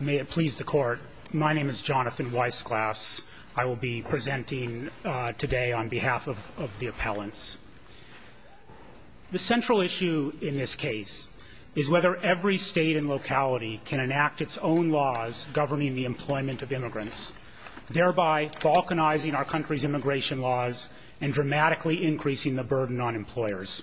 May it please the Court, My name is Jonathan Weissglass. I will be presenting today on behalf of the appellants. The central issue in this case is whether every state and locality can enact its own laws governing the employment of immigrants, thereby balkanizing our country's immigration laws and dramatically increasing the burden on employers.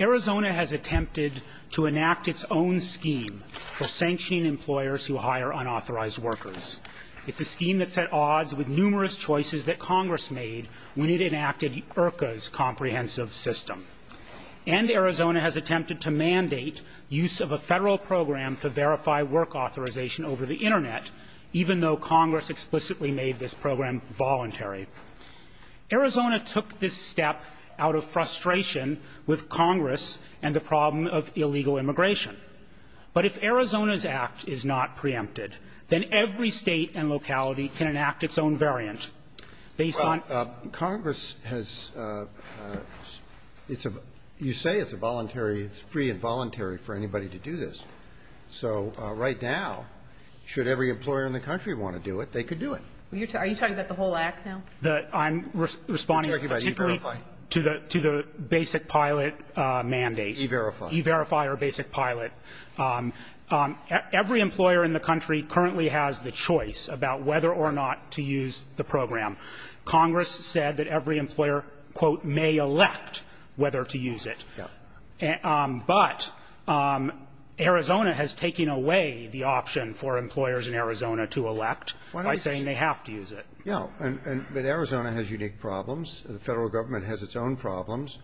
Arizona has attempted to enact its own scheme for sanctioning employers who hire unauthorized workers. It's a scheme that set odds with numerous choices that Congress made when it enacted IRCA's comprehensive system. And Arizona has attempted to mandate use of a federal program to verify work authorization over the Internet, even though Congress explicitly made this program voluntary. Arizona took this step out of frustration with Congress and the problem of illegal immigration. But if Arizona's act is not preempted, then every state and locality can enact its own variant based on Well, Congress has, it's a, you say it's a voluntary, it's free and voluntary for anybody to do this. So right now, should every employer in the country want to do it, they could do it. Are you talking about the whole act now? I'm responding particularly to the basic pilot mandate. E-verify. E-verify or basic pilot. Every employer in the country currently has the choice about whether or not to use the program. Congress said that every employer, quote, may elect whether to use it. But Arizona has taken away the option for employers in Arizona to elect. By saying they have to use it. Yeah. But Arizona has unique problems. The Federal Government has its own problems.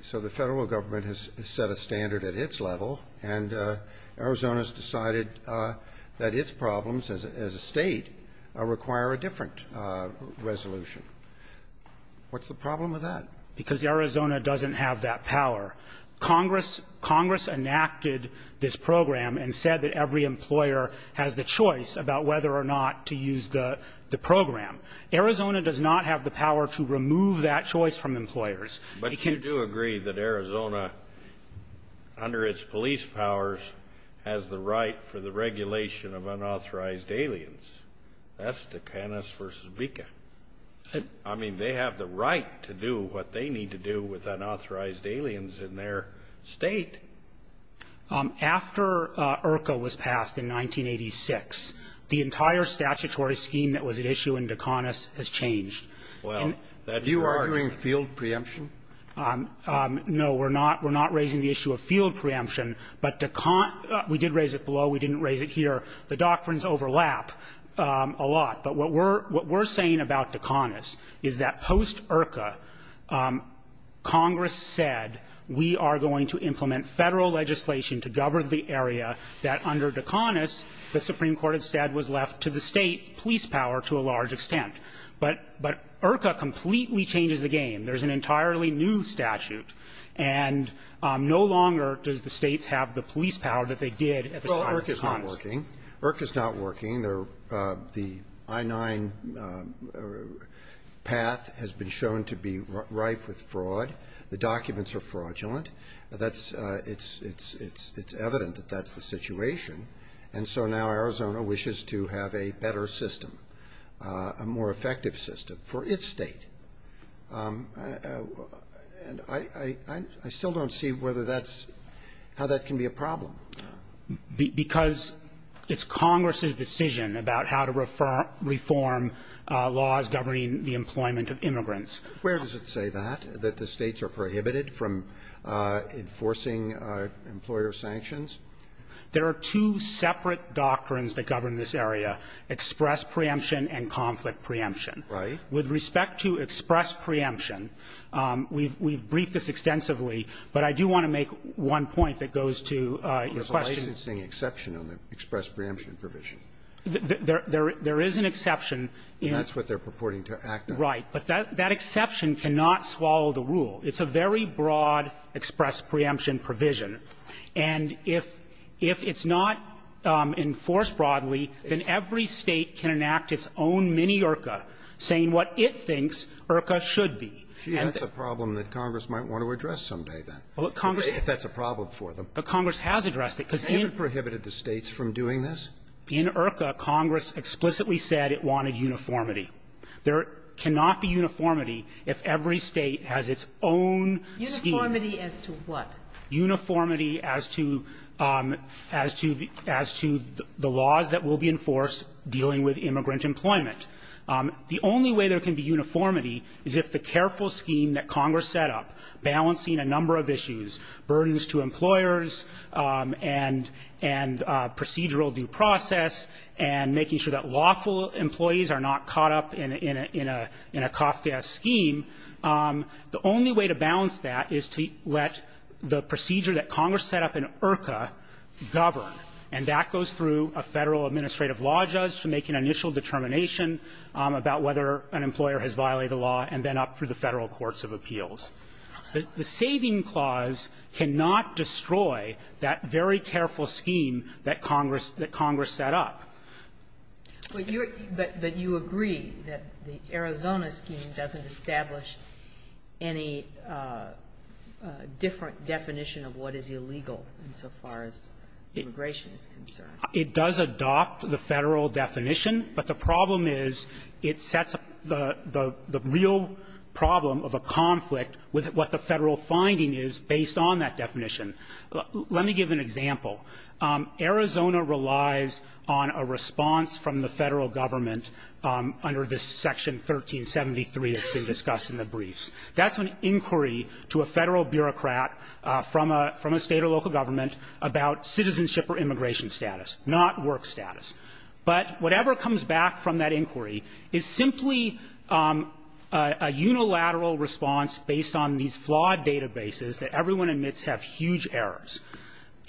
So the Federal Government has set a standard at its level, and Arizona's decided that its problems as a state require a different resolution. What's the problem with that? Because Arizona doesn't have that power. Congress enacted this program and said that every employer has the choice about whether or not to use the program. Arizona does not have the power to remove that choice from employers. But you do agree that Arizona, under its police powers, has the right for the regulation of unauthorized aliens. That's Ticanus versus Bika. I mean, they have the right to do what they need to do with unauthorized aliens in their state. After IRCA was passed in 1986, the entire statutory scheme that was at issue in Ticanus has changed. Well, that's right. Are you arguing field preemption? No. We're not. We're not raising the issue of field preemption. But Ticanus we did raise it below. We didn't raise it here. The doctrines overlap a lot. But what we're saying about Ticanus is that post-IRCA, Congress said, we are going to implement Federal legislation to govern the area that, under Ticanus, the Supreme Court had said was left to the State police power to a large extent. But IRCA completely changes the game. There's an entirely new statute, and no longer does the States have the police power that they did at the time of Ticanus. Well, IRCA's not working. IRCA's not working. The I-9 path has been shown to be rife with fraud. The documents are fraudulent. It's evident that that's the situation. And so now Arizona wishes to have a better system, a more effective system, for its state. And I still don't see whether that's, how that can be a problem. Because it's Congress's decision about how to reform laws governing the employment of immigrants. Roberts. Where does it say that, that the States are prohibited from enforcing employer sanctions? There are two separate doctrines that govern this area, express preemption and conflict preemption. Right. With respect to express preemption, we've briefed this extensively, but I do want to make one point that goes to your question. There's a licensing exception on the express preemption provision. There is an exception in the express preemption provision. And that's what they're purporting to act on. Right. But that exception cannot swallow the rule. It's a very broad express preemption provision. And if it's not enforced broadly, then every State can enact its own mini-IRCA, saying what it thinks IRCA should be. Gee, that's a problem that Congress might want to address someday, then, if that's a problem for them. But Congress has addressed it, because in IRCA, Congress explicitly said it wanted uniformity. There cannot be uniformity if every State has its own scheme. Uniformity as to what? Uniformity as to the laws that will be enforced dealing with immigrant employment. The only way there can be uniformity is if the careful scheme that Congress set up, balancing a number of issues, burdens to employers and procedural due process, and making sure that lawful employees are not caught up in a COFDS scheme, the only way to balance that is to let the procedure that Congress set up in IRCA govern. And that goes through a Federal administrative law judge to make an initial determination about whether an employer has violated the law, and then up through the Federal courts of appeals. The saving clause cannot destroy that very careful scheme that Congress set up. But you agree that the Arizona scheme doesn't establish any different definition of what is illegal insofar as immigration is concerned? It does adopt the Federal definition, but the problem is it sets the real problem of a conflict with what the Federal finding is based on that definition. Let me give an example. Arizona relies on a response from the Federal government under this Section 1373 that's been discussed in the briefs. That's an inquiry to a Federal bureaucrat from a State or local government about citizenship or immigration status, not work status. But whatever comes back from that inquiry is simply a unilateral response based on these flawed databases that everyone admits have huge errors.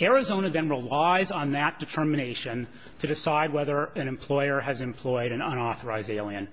Arizona then relies on that determination to decide whether an employer has employed an unauthorized alien.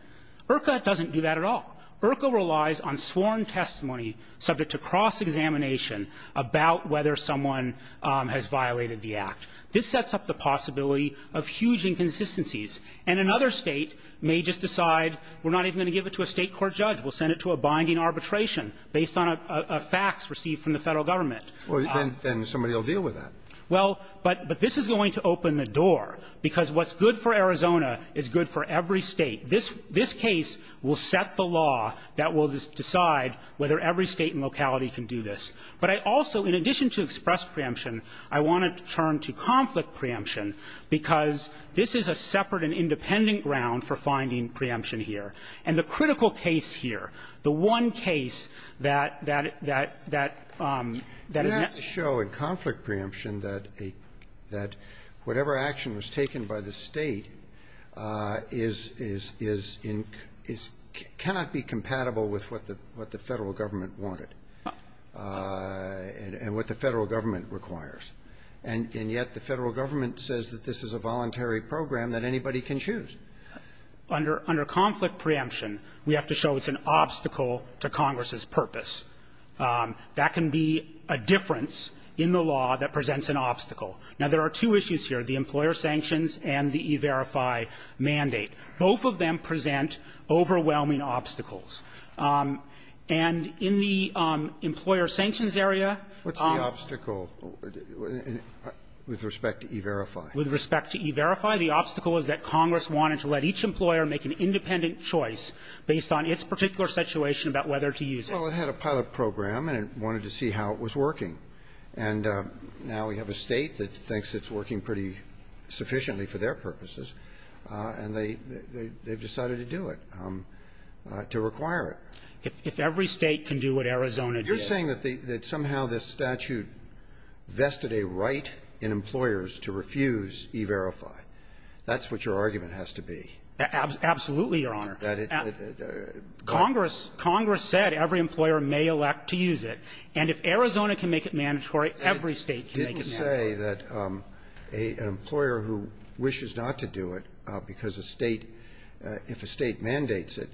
IRCA doesn't do that at all. IRCA relies on sworn testimony subject to cross-examination about whether someone has violated the Act. This sets up the possibility of huge inconsistencies. And another State may just decide we're not even going to give it to a State court judge. We'll send it to a binding arbitration based on a fax received from the Federal government. Well, then somebody will deal with that. Well, but this is going to open the door, because what's good for Arizona is good for every State. This case will set the law that will decide whether every State and locality can do this. But I also, in addition to express preemption, I want to turn to conflict preemption, because this is a separate and independent ground for finding preemption here. And the critical case here, the one case that that that that is not to show in conflict preemption that a that whatever action was taken by the State is is is in is cannot be compatible with what the what the Federal government wanted. And what the Federal government requires. And yet the Federal government says that this is a voluntary program that anybody can choose. Under under conflict preemption, we have to show it's an obstacle to Congress's purpose. That can be a difference in the law that presents an obstacle. Now, there are two issues here, the employer sanctions and the E-Verify mandate. Both of them present overwhelming obstacles. And in the employer sanctions area What's the obstacle with respect to E-Verify? With respect to E-Verify, the obstacle is that Congress wanted to let each employer make an independent choice based on its particular situation about whether to use it. Well, it had a pilot program, and it wanted to see how it was working. And now we have a State that thinks it's working pretty sufficiently for their purposes. And they they've decided to do it, to require it. If every State can do what Arizona did. You're saying that somehow this statute vested a right in employers to refuse E-Verify. That's what your argument has to be. Absolutely, Your Honor. That it Congress Congress said every employer may elect to use it. And if Arizona can make it mandatory, every State can make it mandatory. But you can't say that an employer who wishes not to do it because a State, if a State mandates it,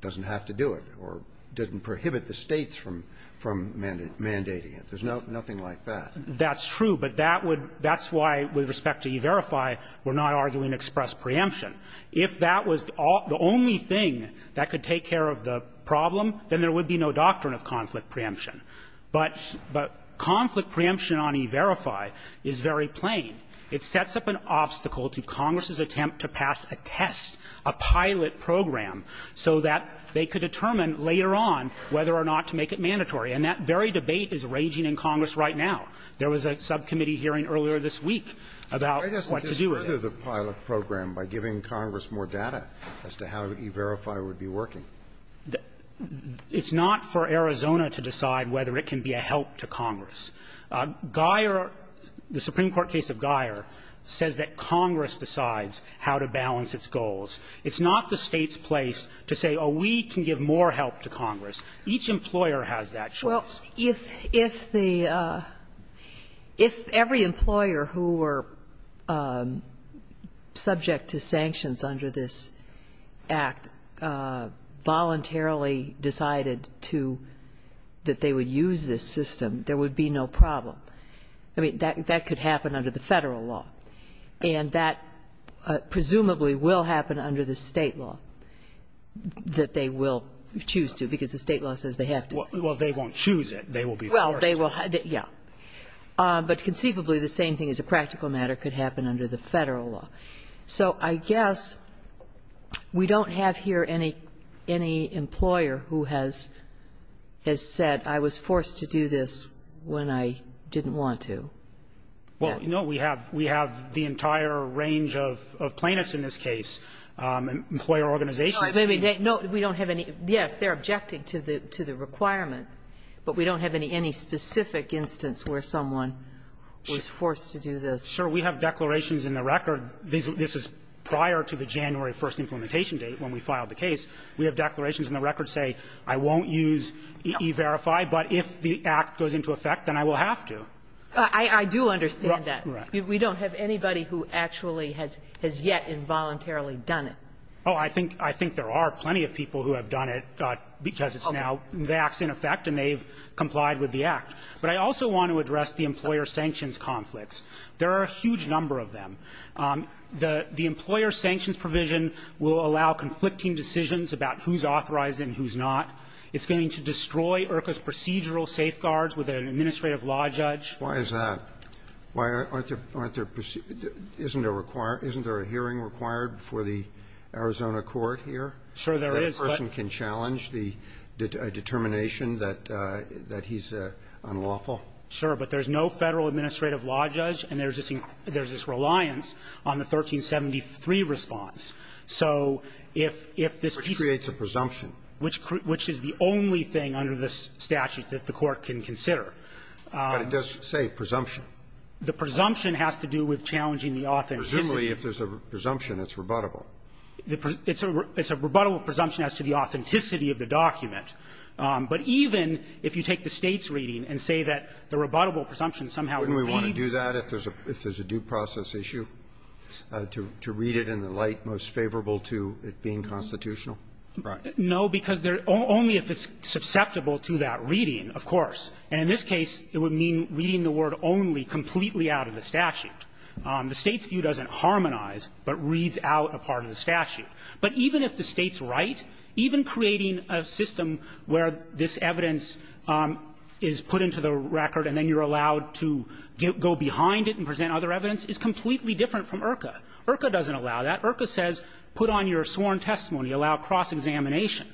doesn't have to do it or doesn't prohibit the States from mandating it. There's nothing like that. That's true, but that's why, with respect to E-Verify, we're not arguing express preemption. If that was the only thing that could take care of the problem, then there would be no doctrine of conflict preemption. But conflict preemption on E-Verify is very plain. It sets up an obstacle to Congress's attempt to pass a test, a pilot program, so that they could determine later on whether or not to make it mandatory. And that very debate is raging in Congress right now. There was a subcommittee hearing earlier this week about what to do with it. Why doesn't it further the pilot program by giving Congress more data as to how E-Verify would be working? It's not for Arizona to decide whether it can be a help to Congress. Geyer, the Supreme Court case of Geyer, says that Congress decides how to balance its goals. It's not the State's place to say, oh, we can give more help to Congress. Each employer has that choice. If the – if every employer who were subject to sanctions under this Act voluntarily decided to – that they would use this system, there would be no problem. I mean, that could happen under the Federal law. And that presumably will happen under the State law, that they will choose to, because the State law says they have to. Well, they won't choose it. They will be forced. Well, they will – yeah. But conceivably, the same thing as a practical matter could happen under the Federal law. So I guess we don't have here any employer who has said, I was forced to do this when I didn't want to. Well, no, we have the entire range of plaintiffs in this case, employer organizations. No, we don't have any. Yes, they're objecting to the requirement, but we don't have any specific instance where someone was forced to do this. Sure. We have declarations in the record. This is prior to the January 1st implementation date when we filed the case. We have declarations in the record say, I won't use E-Verify, but if the Act goes into effect, then I will have to. I do understand that. Right. We don't have anybody who actually has yet involuntarily done it. Oh, I think – I think there are plenty of people who have done it because it's now – the Act's in effect and they've complied with the Act. But I also want to address the employer sanctions conflicts. There are a huge number of them. The employer sanctions provision will allow conflicting decisions about who's authorized and who's not. It's going to destroy IRCA's procedural safeguards with an administrative law judge. Why is that? Why aren't there – isn't there a hearing required for the Arizona court here? Sure, there is, but – That a person can challenge the determination that he's unlawful? Sure. But there's no Federal administrative law judge and there's this reliance on the 1373 response. So if this piece of – Which creates a presumption. Which is the only thing under the statute that the Court can consider. But it does say presumption. The presumption has to do with challenging the authenticity. Presumably, if there's a presumption, it's rebuttable. It's a – it's a rebuttable presumption as to the authenticity of the document. But even if you take the State's reading and say that the rebuttable presumption somehow reads – Wouldn't we want to do that if there's a due process issue, to read it in the light most favorable to it being constitutional? Right. No, because there – only if it's susceptible to that reading, of course. And in this case, it would mean reading the word only completely out of the statute. The State's view doesn't harmonize, but reads out a part of the statute. But even if the State's right, even creating a system where this evidence is put into the record and then you're allowed to go behind it and present other evidence is completely different from IRCA. IRCA doesn't allow that. IRCA says put on your sworn testimony, allow cross-examination.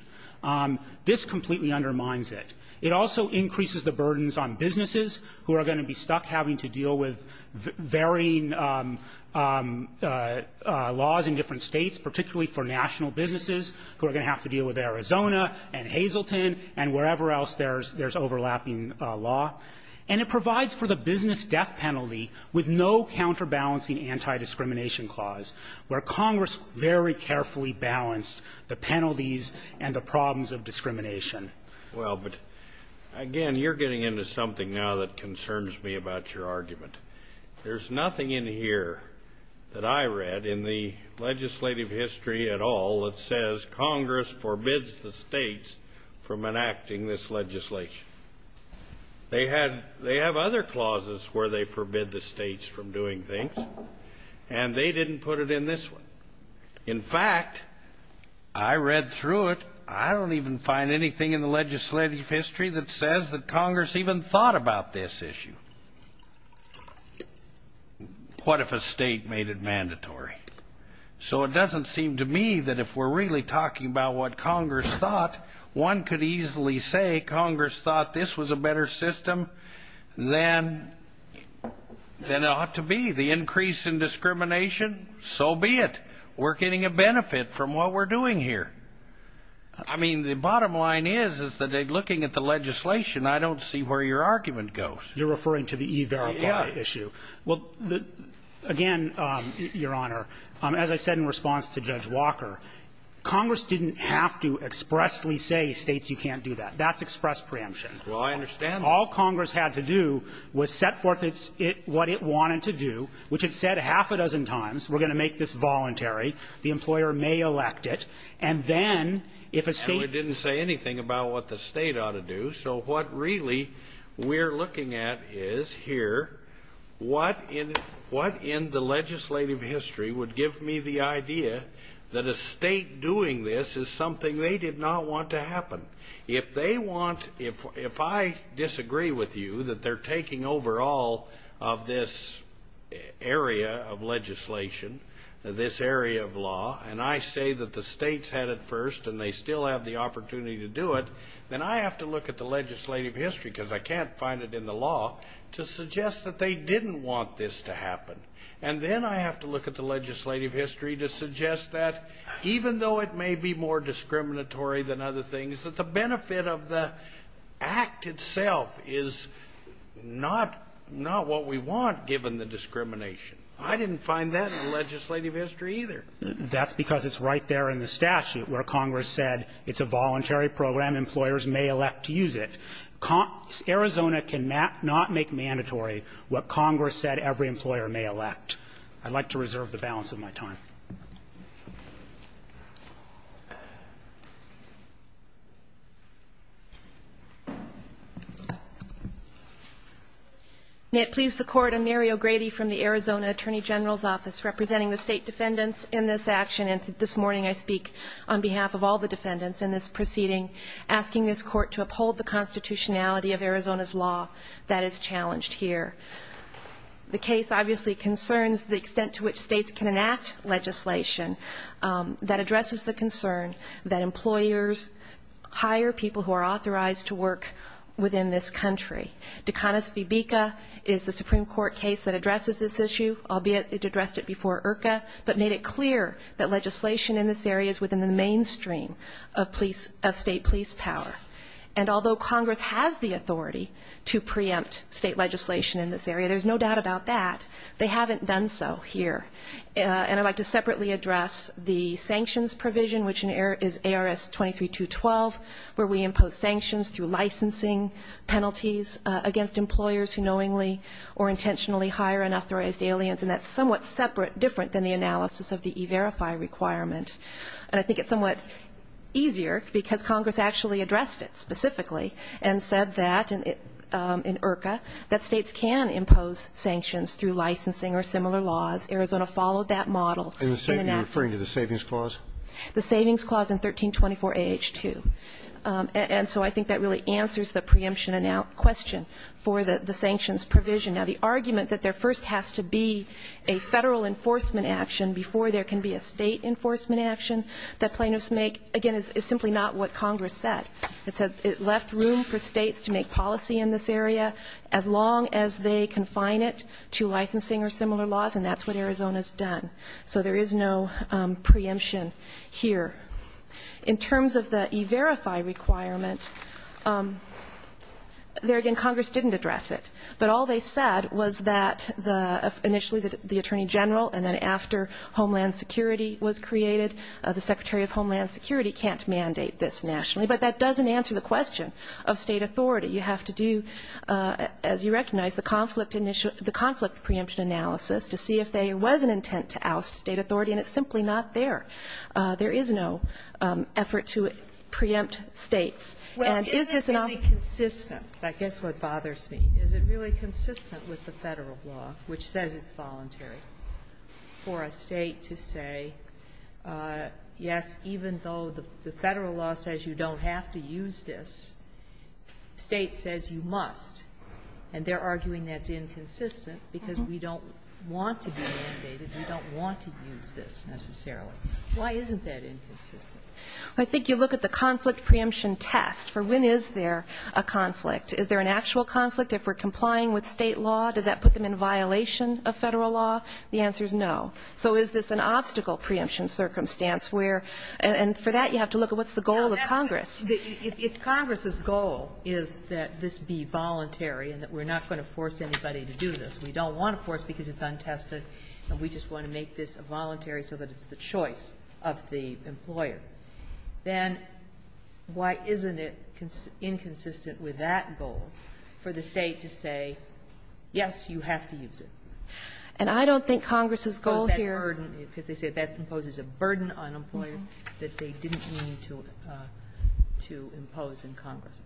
This completely undermines it. It also increases the burdens on businesses who are going to be stuck having to deal with varying laws in different States, particularly for national businesses who are going to have to deal with Arizona and Hazleton and wherever else there's overlapping law. And it provides for the business death penalty with no counterbalancing anti-discrimination clause, where Congress very carefully balanced the penalties and the problems of discrimination. Well, but again, you're getting into something now that concerns me about your argument. There's nothing in here that I read in the legislative history at all that says Congress forbids the States from enacting this legislation. They have other clauses where they forbid the States from doing things, and they didn't put it in this one. In fact, I read through it. I don't even find anything in the legislative history that says that Congress even thought about this issue. What if a state made it mandatory? So it doesn't seem to me that if we're really talking about what Congress thought, one could easily say Congress thought this was a better system than it ought to be. The increase in discrimination, so be it. We're getting a benefit from what we're doing here. I mean, the bottom line is, is that looking at the legislation, I don't see where your argument goes. You're referring to the E-Verify issue. Well, again, Your Honor, as I said in response to Judge Walker, Congress didn't have to expressly say, States, you can't do that. That's express preemption. Well, I understand that. All Congress had to do was set forth what it wanted to do, which it said a half a dozen times. We're going to make this voluntary. The employer may elect it. And then, if a state- No, it didn't say anything about what the state ought to do. So what really we're looking at is here, what in the legislative history would give me the idea that a state doing this is something they did not want to happen? If they want, if I disagree with you, that they're taking over all of this area of legislation, this area of law, and I say that the states had it first, and they still have the opportunity to do it, then I have to look at the legislative history, because I can't find it in the law, to suggest that they didn't want this to happen. And then I have to look at the legislative history to suggest that, even though it may be more discriminatory than other things, that the benefit of the Act itself is not what we want, given the discrimination. I didn't find that in legislative history, either. That's because it's right there in the statute, where Congress said it's a voluntary program. Employers may elect to use it. Arizona cannot make mandatory what Congress said every employer may elect. I'd like to reserve the balance of my time. May it please the Court, I'm Mary O'Grady from the Arizona Attorney General's Office, representing the state defendants in this action, and this morning I speak on behalf of all the defendants in this proceeding, asking this Court to uphold the constitutionality of Arizona's law that is challenged here. The case, obviously, concerns the extent to which states can enact legislation that addresses the concern that employers hire people who are authorized to work within this country. De Canas v. Beeka is the Supreme Court case that addresses this issue, albeit it addressed it before IRCA, but made it clear that legislation in this area is within the mainstream of state police power. And although Congress has the authority to preempt state legislation in this area, there's no doubt about that, they haven't done so here. And I'd like to separately address the sanctions provision, which is ARS 23212, where we impose sanctions through licensing penalties against employers who knowingly or intentionally hire unauthorized aliens. And that's somewhat separate, different than the analysis of the E-Verify requirement. And I think it's somewhat easier because Congress actually addressed it specifically and said that in IRCA, that states can impose sanctions through licensing or similar laws. Arizona followed that model. And you're referring to the Savings Clause? The Savings Clause in 1324 AH2. And so I think that really answers the preemption question for the sanctions provision. Now, the argument that there first has to be a Federal enforcement action and before there can be a state enforcement action that plaintiffs make, again, is simply not what Congress said. It said it left room for states to make policy in this area as long as they confine it to licensing or similar laws. And that's what Arizona's done. So there is no preemption here. In terms of the E-Verify requirement, there again, Congress didn't address it. But all they said was that initially the Attorney General and then after Homeland Security was created, the Secretary of Homeland Security can't mandate this nationally. But that doesn't answer the question of state authority. You have to do, as you recognize, the conflict initial the conflict preemption analysis to see if there was an intent to oust state authority. And it's simply not there. There is no effort to preempt states. And is this enough? Well, isn't it really consistent? I guess what bothers me. Is it really consistent with the Federal law, which says it's voluntary for a state to say, yes, even though the Federal law says you don't have to use this, state says you must. And they're arguing that's inconsistent because we don't want to be mandated, we don't want to use this necessarily. Why isn't that inconsistent? I think you look at the conflict preemption test for when is there a conflict. Is there an actual conflict if we're complying with state law? Does that put them in violation of Federal law? The answer is no. So is this an obstacle preemption circumstance where, and for that you have to look at what's the goal of Congress. If Congress's goal is that this be voluntary and that we're not going to force anybody to do this. We don't want to force because it's untested and we just want to make this a voluntary so that it's the choice of the employer. Then why isn't it inconsistent with that goal for the state to say, yes, you have to use it? And I don't think Congress's goal here. Because they say that imposes a burden on employers that they didn't mean to impose in Congress.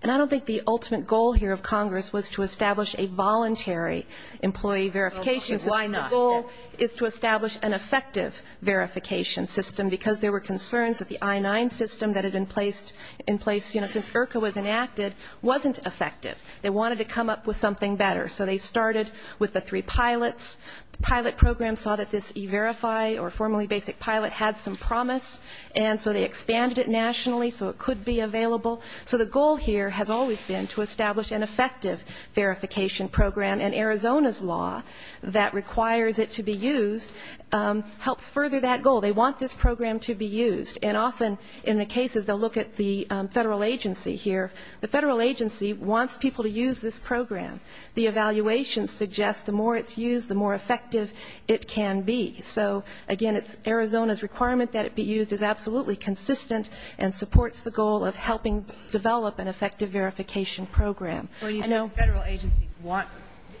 And I don't think the ultimate goal here of Congress was to establish a voluntary employee verification system. Why not? The goal is to establish an effective verification system because there were concerns that the I-9 system that had been placed, in place since IRCA was enacted, wasn't effective. They wanted to come up with something better. So they started with the three pilots. The pilot program saw that this e-verify, or formerly basic pilot, had some promise. And so they expanded it nationally so it could be available. So the goal here has always been to establish an effective verification program. And Arizona's law that requires it to be used helps further that goal. They want this program to be used. And often in the cases, they'll look at the Federal agency here. The Federal agency wants people to use this program. The evaluation suggests the more it's used, the more effective it can be. So, again, it's Arizona's requirement that it be used is absolutely consistent and supports the goal of helping develop an effective verification program. I know- When you say the Federal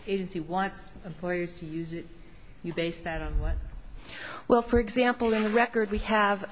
agency wants employers to use it, you base that on what? Well, for example, in the record we have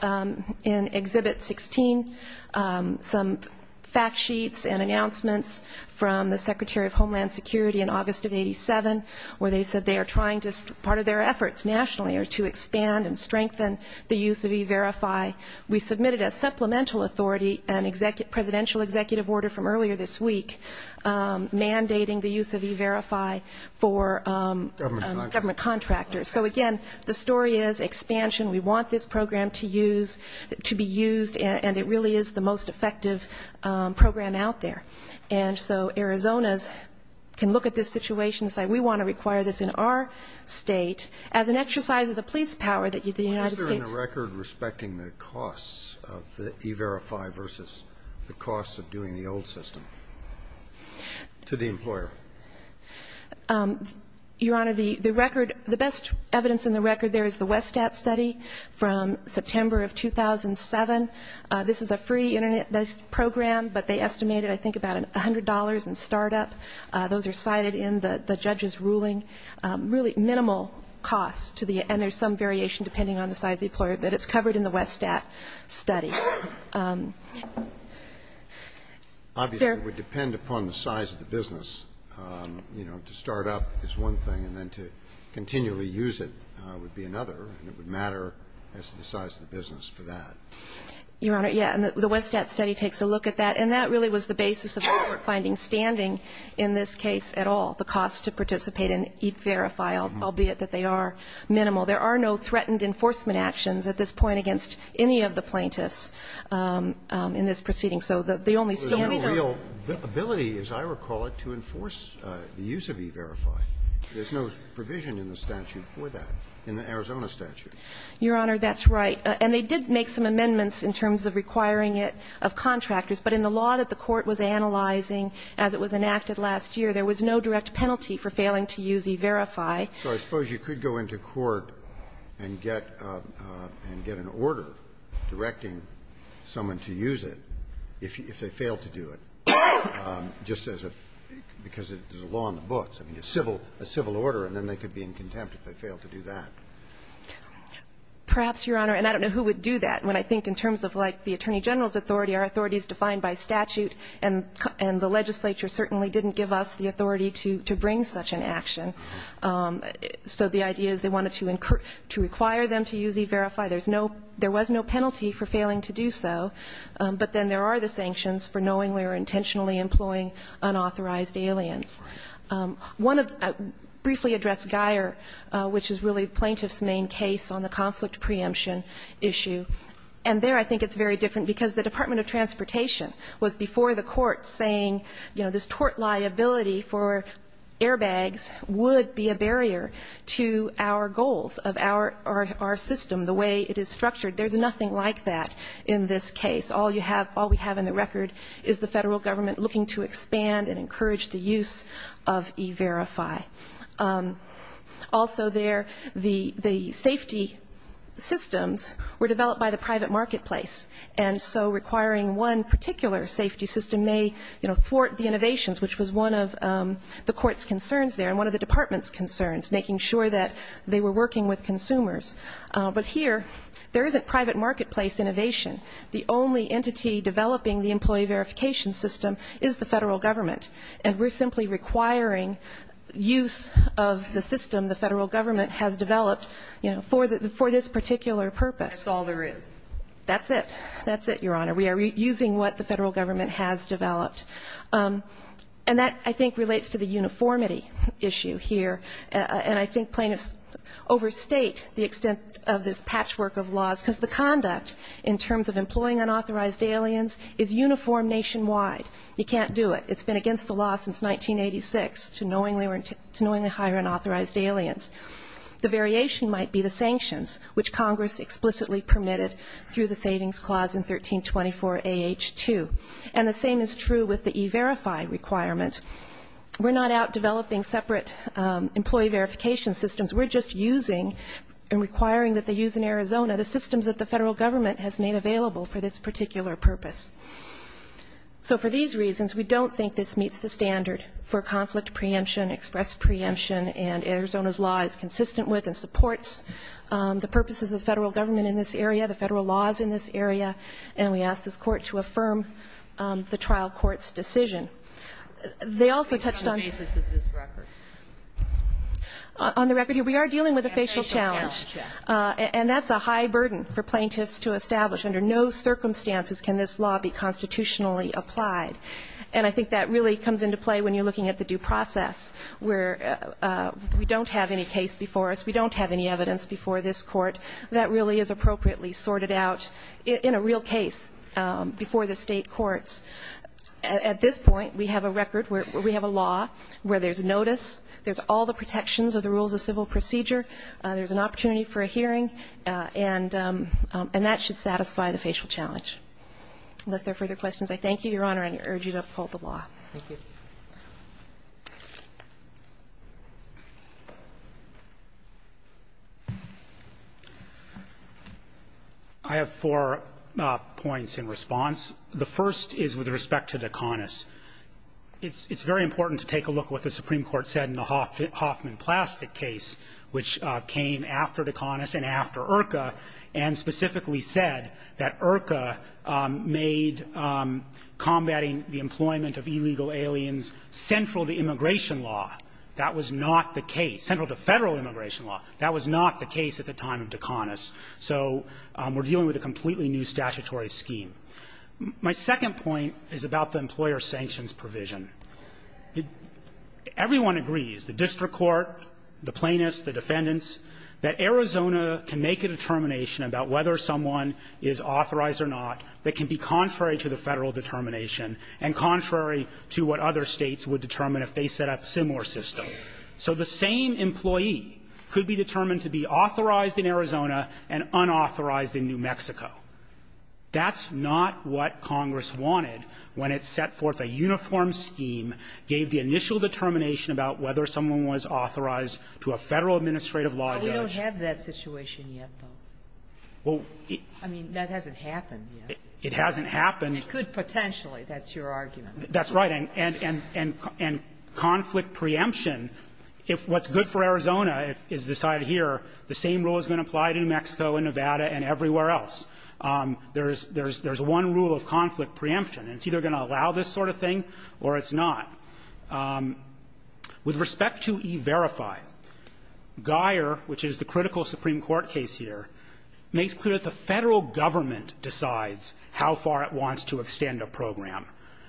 in Exhibit 16 some fact sheets and announcements from the Secretary of Homeland Security in August of 87, where they said they are trying to, part of their efforts nationally are to expand and strengthen the use of e-verify. We submitted a supplemental authority, a presidential executive order from earlier this week, mandating the use of e-verify for government contractors. So, again, the story is expansion. We want this program to be used, and it really is the most effective program out there. And so Arizona's can look at this situation and say, we want to require this in our state. As an exercise of the police power that the United States- The costs of the e-verify versus the costs of doing the old system. To the employer. Your Honor, the record, the best evidence in the record there is the Westat study from September of 2007. This is a free Internet-based program, but they estimated, I think, about $100 in startup. Those are cited in the judge's ruling. Really minimal costs to the end. There's some variation depending on the size of the employer, but it's covered in the Westat study. Obviously, it would depend upon the size of the business. You know, to start up is one thing, and then to continually use it would be another. And it would matter as to the size of the business for that. Your Honor, yeah. And the Westat study takes a look at that. And that really was the basis of what we're finding standing in this case at all, the cost to participate. And e-verify, albeit that they are minimal, there are no threatened enforcement actions at this point against any of the plaintiffs in this proceeding. So the only standard- There's no real ability, as I recall it, to enforce the use of e-verify. There's no provision in the statute for that, in the Arizona statute. Your Honor, that's right. And they did make some amendments in terms of requiring it of contractors. But in the law that the Court was analyzing as it was enacted last year, there was no direct penalty for failing to use e-verify. So I suppose you could go into court and get an order directing someone to use it if they fail to do it, just as a law in the books, a civil order, and then they could be in contempt if they fail to do that. Perhaps, Your Honor. And I don't know who would do that, when I think in terms of, like, the Attorney General's authority, our authority is defined by statute, and the legislature certainly didn't give us the authority to bring such an action. So the idea is they wanted to require them to use e-verify. There's no – there was no penalty for failing to do so. But then there are the sanctions for knowingly or intentionally employing unauthorized aliens. One of the – I briefly addressed Guyer, which is really the plaintiff's main case on the conflict preemption issue. And there I think it's very different, because the Department of Transportation was before the court saying, you know, this tort liability for airbags would be a barrier to our goals of our system, the way it is structured. There's nothing like that in this case. All you have – all we have in the record is the federal government looking to expand and encourage the use of e-verify. Also there, the safety systems were developed by the private marketplace. And so requiring one particular safety system may, you know, thwart the innovations, which was one of the court's concerns there and one of the department's concerns, making sure that they were working with consumers. But here, there isn't private marketplace innovation. The only entity developing the employee verification system is the federal government. And we're simply requiring use of the system the federal government has developed, you know, for this particular purpose. That's all there is. That's it. That's it, Your Honor. We are using what the federal government has developed. And that, I think, relates to the uniformity issue here. And I think plaintiffs overstate the extent of this patchwork of laws, because the conduct in terms of employing unauthorized aliens is uniform nationwide. You can't do it. It's been against the law since 1986 to knowingly hire unauthorized aliens. The variation might be the sanctions, which Congress explicitly permitted through the Savings Clause in 1324 AH2. And the same is true with the E-Verify requirement. We're not out developing separate employee verification systems. We're just using and requiring that they use in Arizona the systems that the federal government has made available for this particular purpose. So for these reasons, we don't think this meets the standard for conflict preemption, express preemption, and Arizona's law is consistent with and supports the purposes of the federal government in this area, the federal laws in this area. And we ask this Court to affirm the trial court's decision. They also touched on the basis of this record. On the record here, we are dealing with a facial challenge. And that's a high burden for plaintiffs to establish. Under no circumstances can this law be constitutionally applied. And I think that really comes into play when you're looking at the due process, where we don't have any case before us, we don't have any evidence before this court that really is appropriately sorted out in a real case before the state courts. At this point, we have a record, we have a law where there's notice, there's all the protections of the rules of civil procedure, there's an opportunity for a hearing, and that should satisfy the facial challenge. Unless there are further questions, I thank you, Your Honor, and urge you to uphold the law. Thank you. I have four points in response. The first is with respect to Daconis. It's very important to take a look at what the Supreme Court said in the Hoffman Plastic case, which came after Daconis and after Urca, and specifically said that Urca made combating the employment of illegal aliens central to immigration law. That was not the case, central to Federal immigration law. That was not the case at the time of Daconis. So we're dealing with a completely new statutory scheme. My second point is about the employer sanctions provision. Everyone agrees, the district court, the plaintiffs, the defendants, that Arizona can make a determination about whether someone is authorized or not that can be contrary to the Federal determination and contrary to what other States would determine if they set up a similar system. So the same employee could be determined to be authorized in Arizona and unauthorized in New Mexico. That's not what Congress wanted when it set forth a uniform scheme, gave the initial determination about whether someone was authorized to a Federal administrative law judge. Sotomayor, I mean, that hasn't happened yet. It hasn't happened. It could potentially. That's your argument. That's right. And conflict preemption, if what's good for Arizona is decided here, the same rule has been applied in New Mexico and Nevada and everywhere else. There's one rule of conflict preemption. It's either going to allow this sort of thing or it's not. With respect to E-Verify, Guyer, which is the critical Supreme Court case here, makes clear that the Federal government decides how far it wants to extend a program.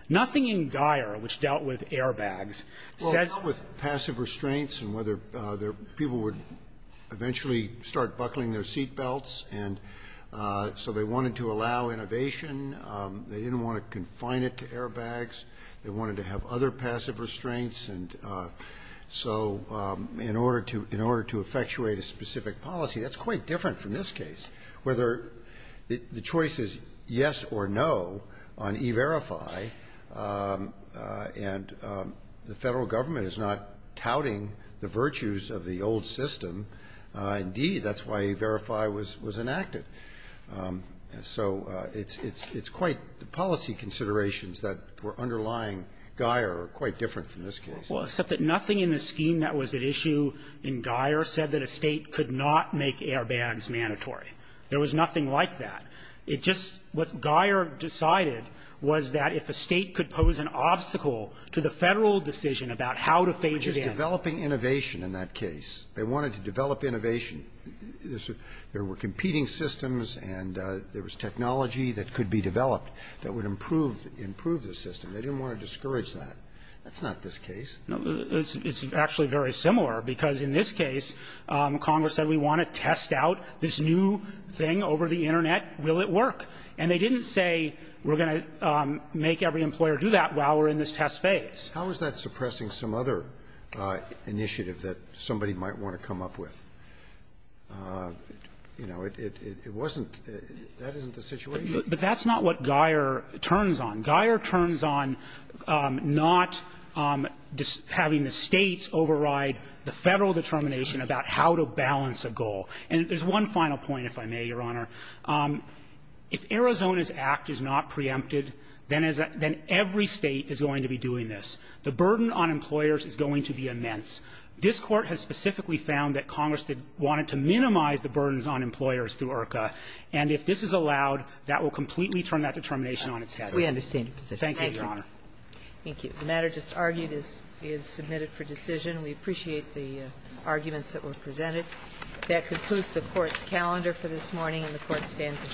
Nothing in Guyer, which dealt with airbags, said that the Federal government And so in order to effectuate a specific policy, that's quite different from this case, whether the choice is yes or no on E-Verify, and the Federal government is not touting the virtues of the old system. Indeed, that's why E-Verify was enacted. So it's quite the policy considerations that were underlying Guyer are quite different from this case. Well, except that nothing in the scheme that was at issue in Guyer said that a State could not make airbags mandatory. There was nothing like that. It just what Guyer decided was that if a State could pose an obstacle to the Federal decision about how to phase it in. Which is developing innovation in that case. They wanted to develop innovation. There were competing systems and there was technology that could be developed that would improve the system. They didn't want to discourage that. That's not this case. It's actually very similar, because in this case, Congress said we want to test out this new thing over the Internet. Will it work? And they didn't say we're going to make every employer do that while we're in this test phase. How is that suppressing some other initiative that somebody might want to come up with? You know, it wasn't the situation. But that's not what Guyer turns on. Guyer turns on not having the States override the Federal determination about how to balance a goal. And there's one final point, if I may, Your Honor. If Arizona's act is not preempted, then every State is going to be doing this. The burden on employers is going to be immense. This Court has specifically found that Congress wanted to minimize the burdens on employers through IRCA. And if this is allowed, that will completely turn that determination on its head. We understand your position. Thank you, Your Honor. Thank you. The matter just argued is submitted for decision. We appreciate the arguments that were presented. That concludes the Court's calendar for this morning, and the Court stands adjourned.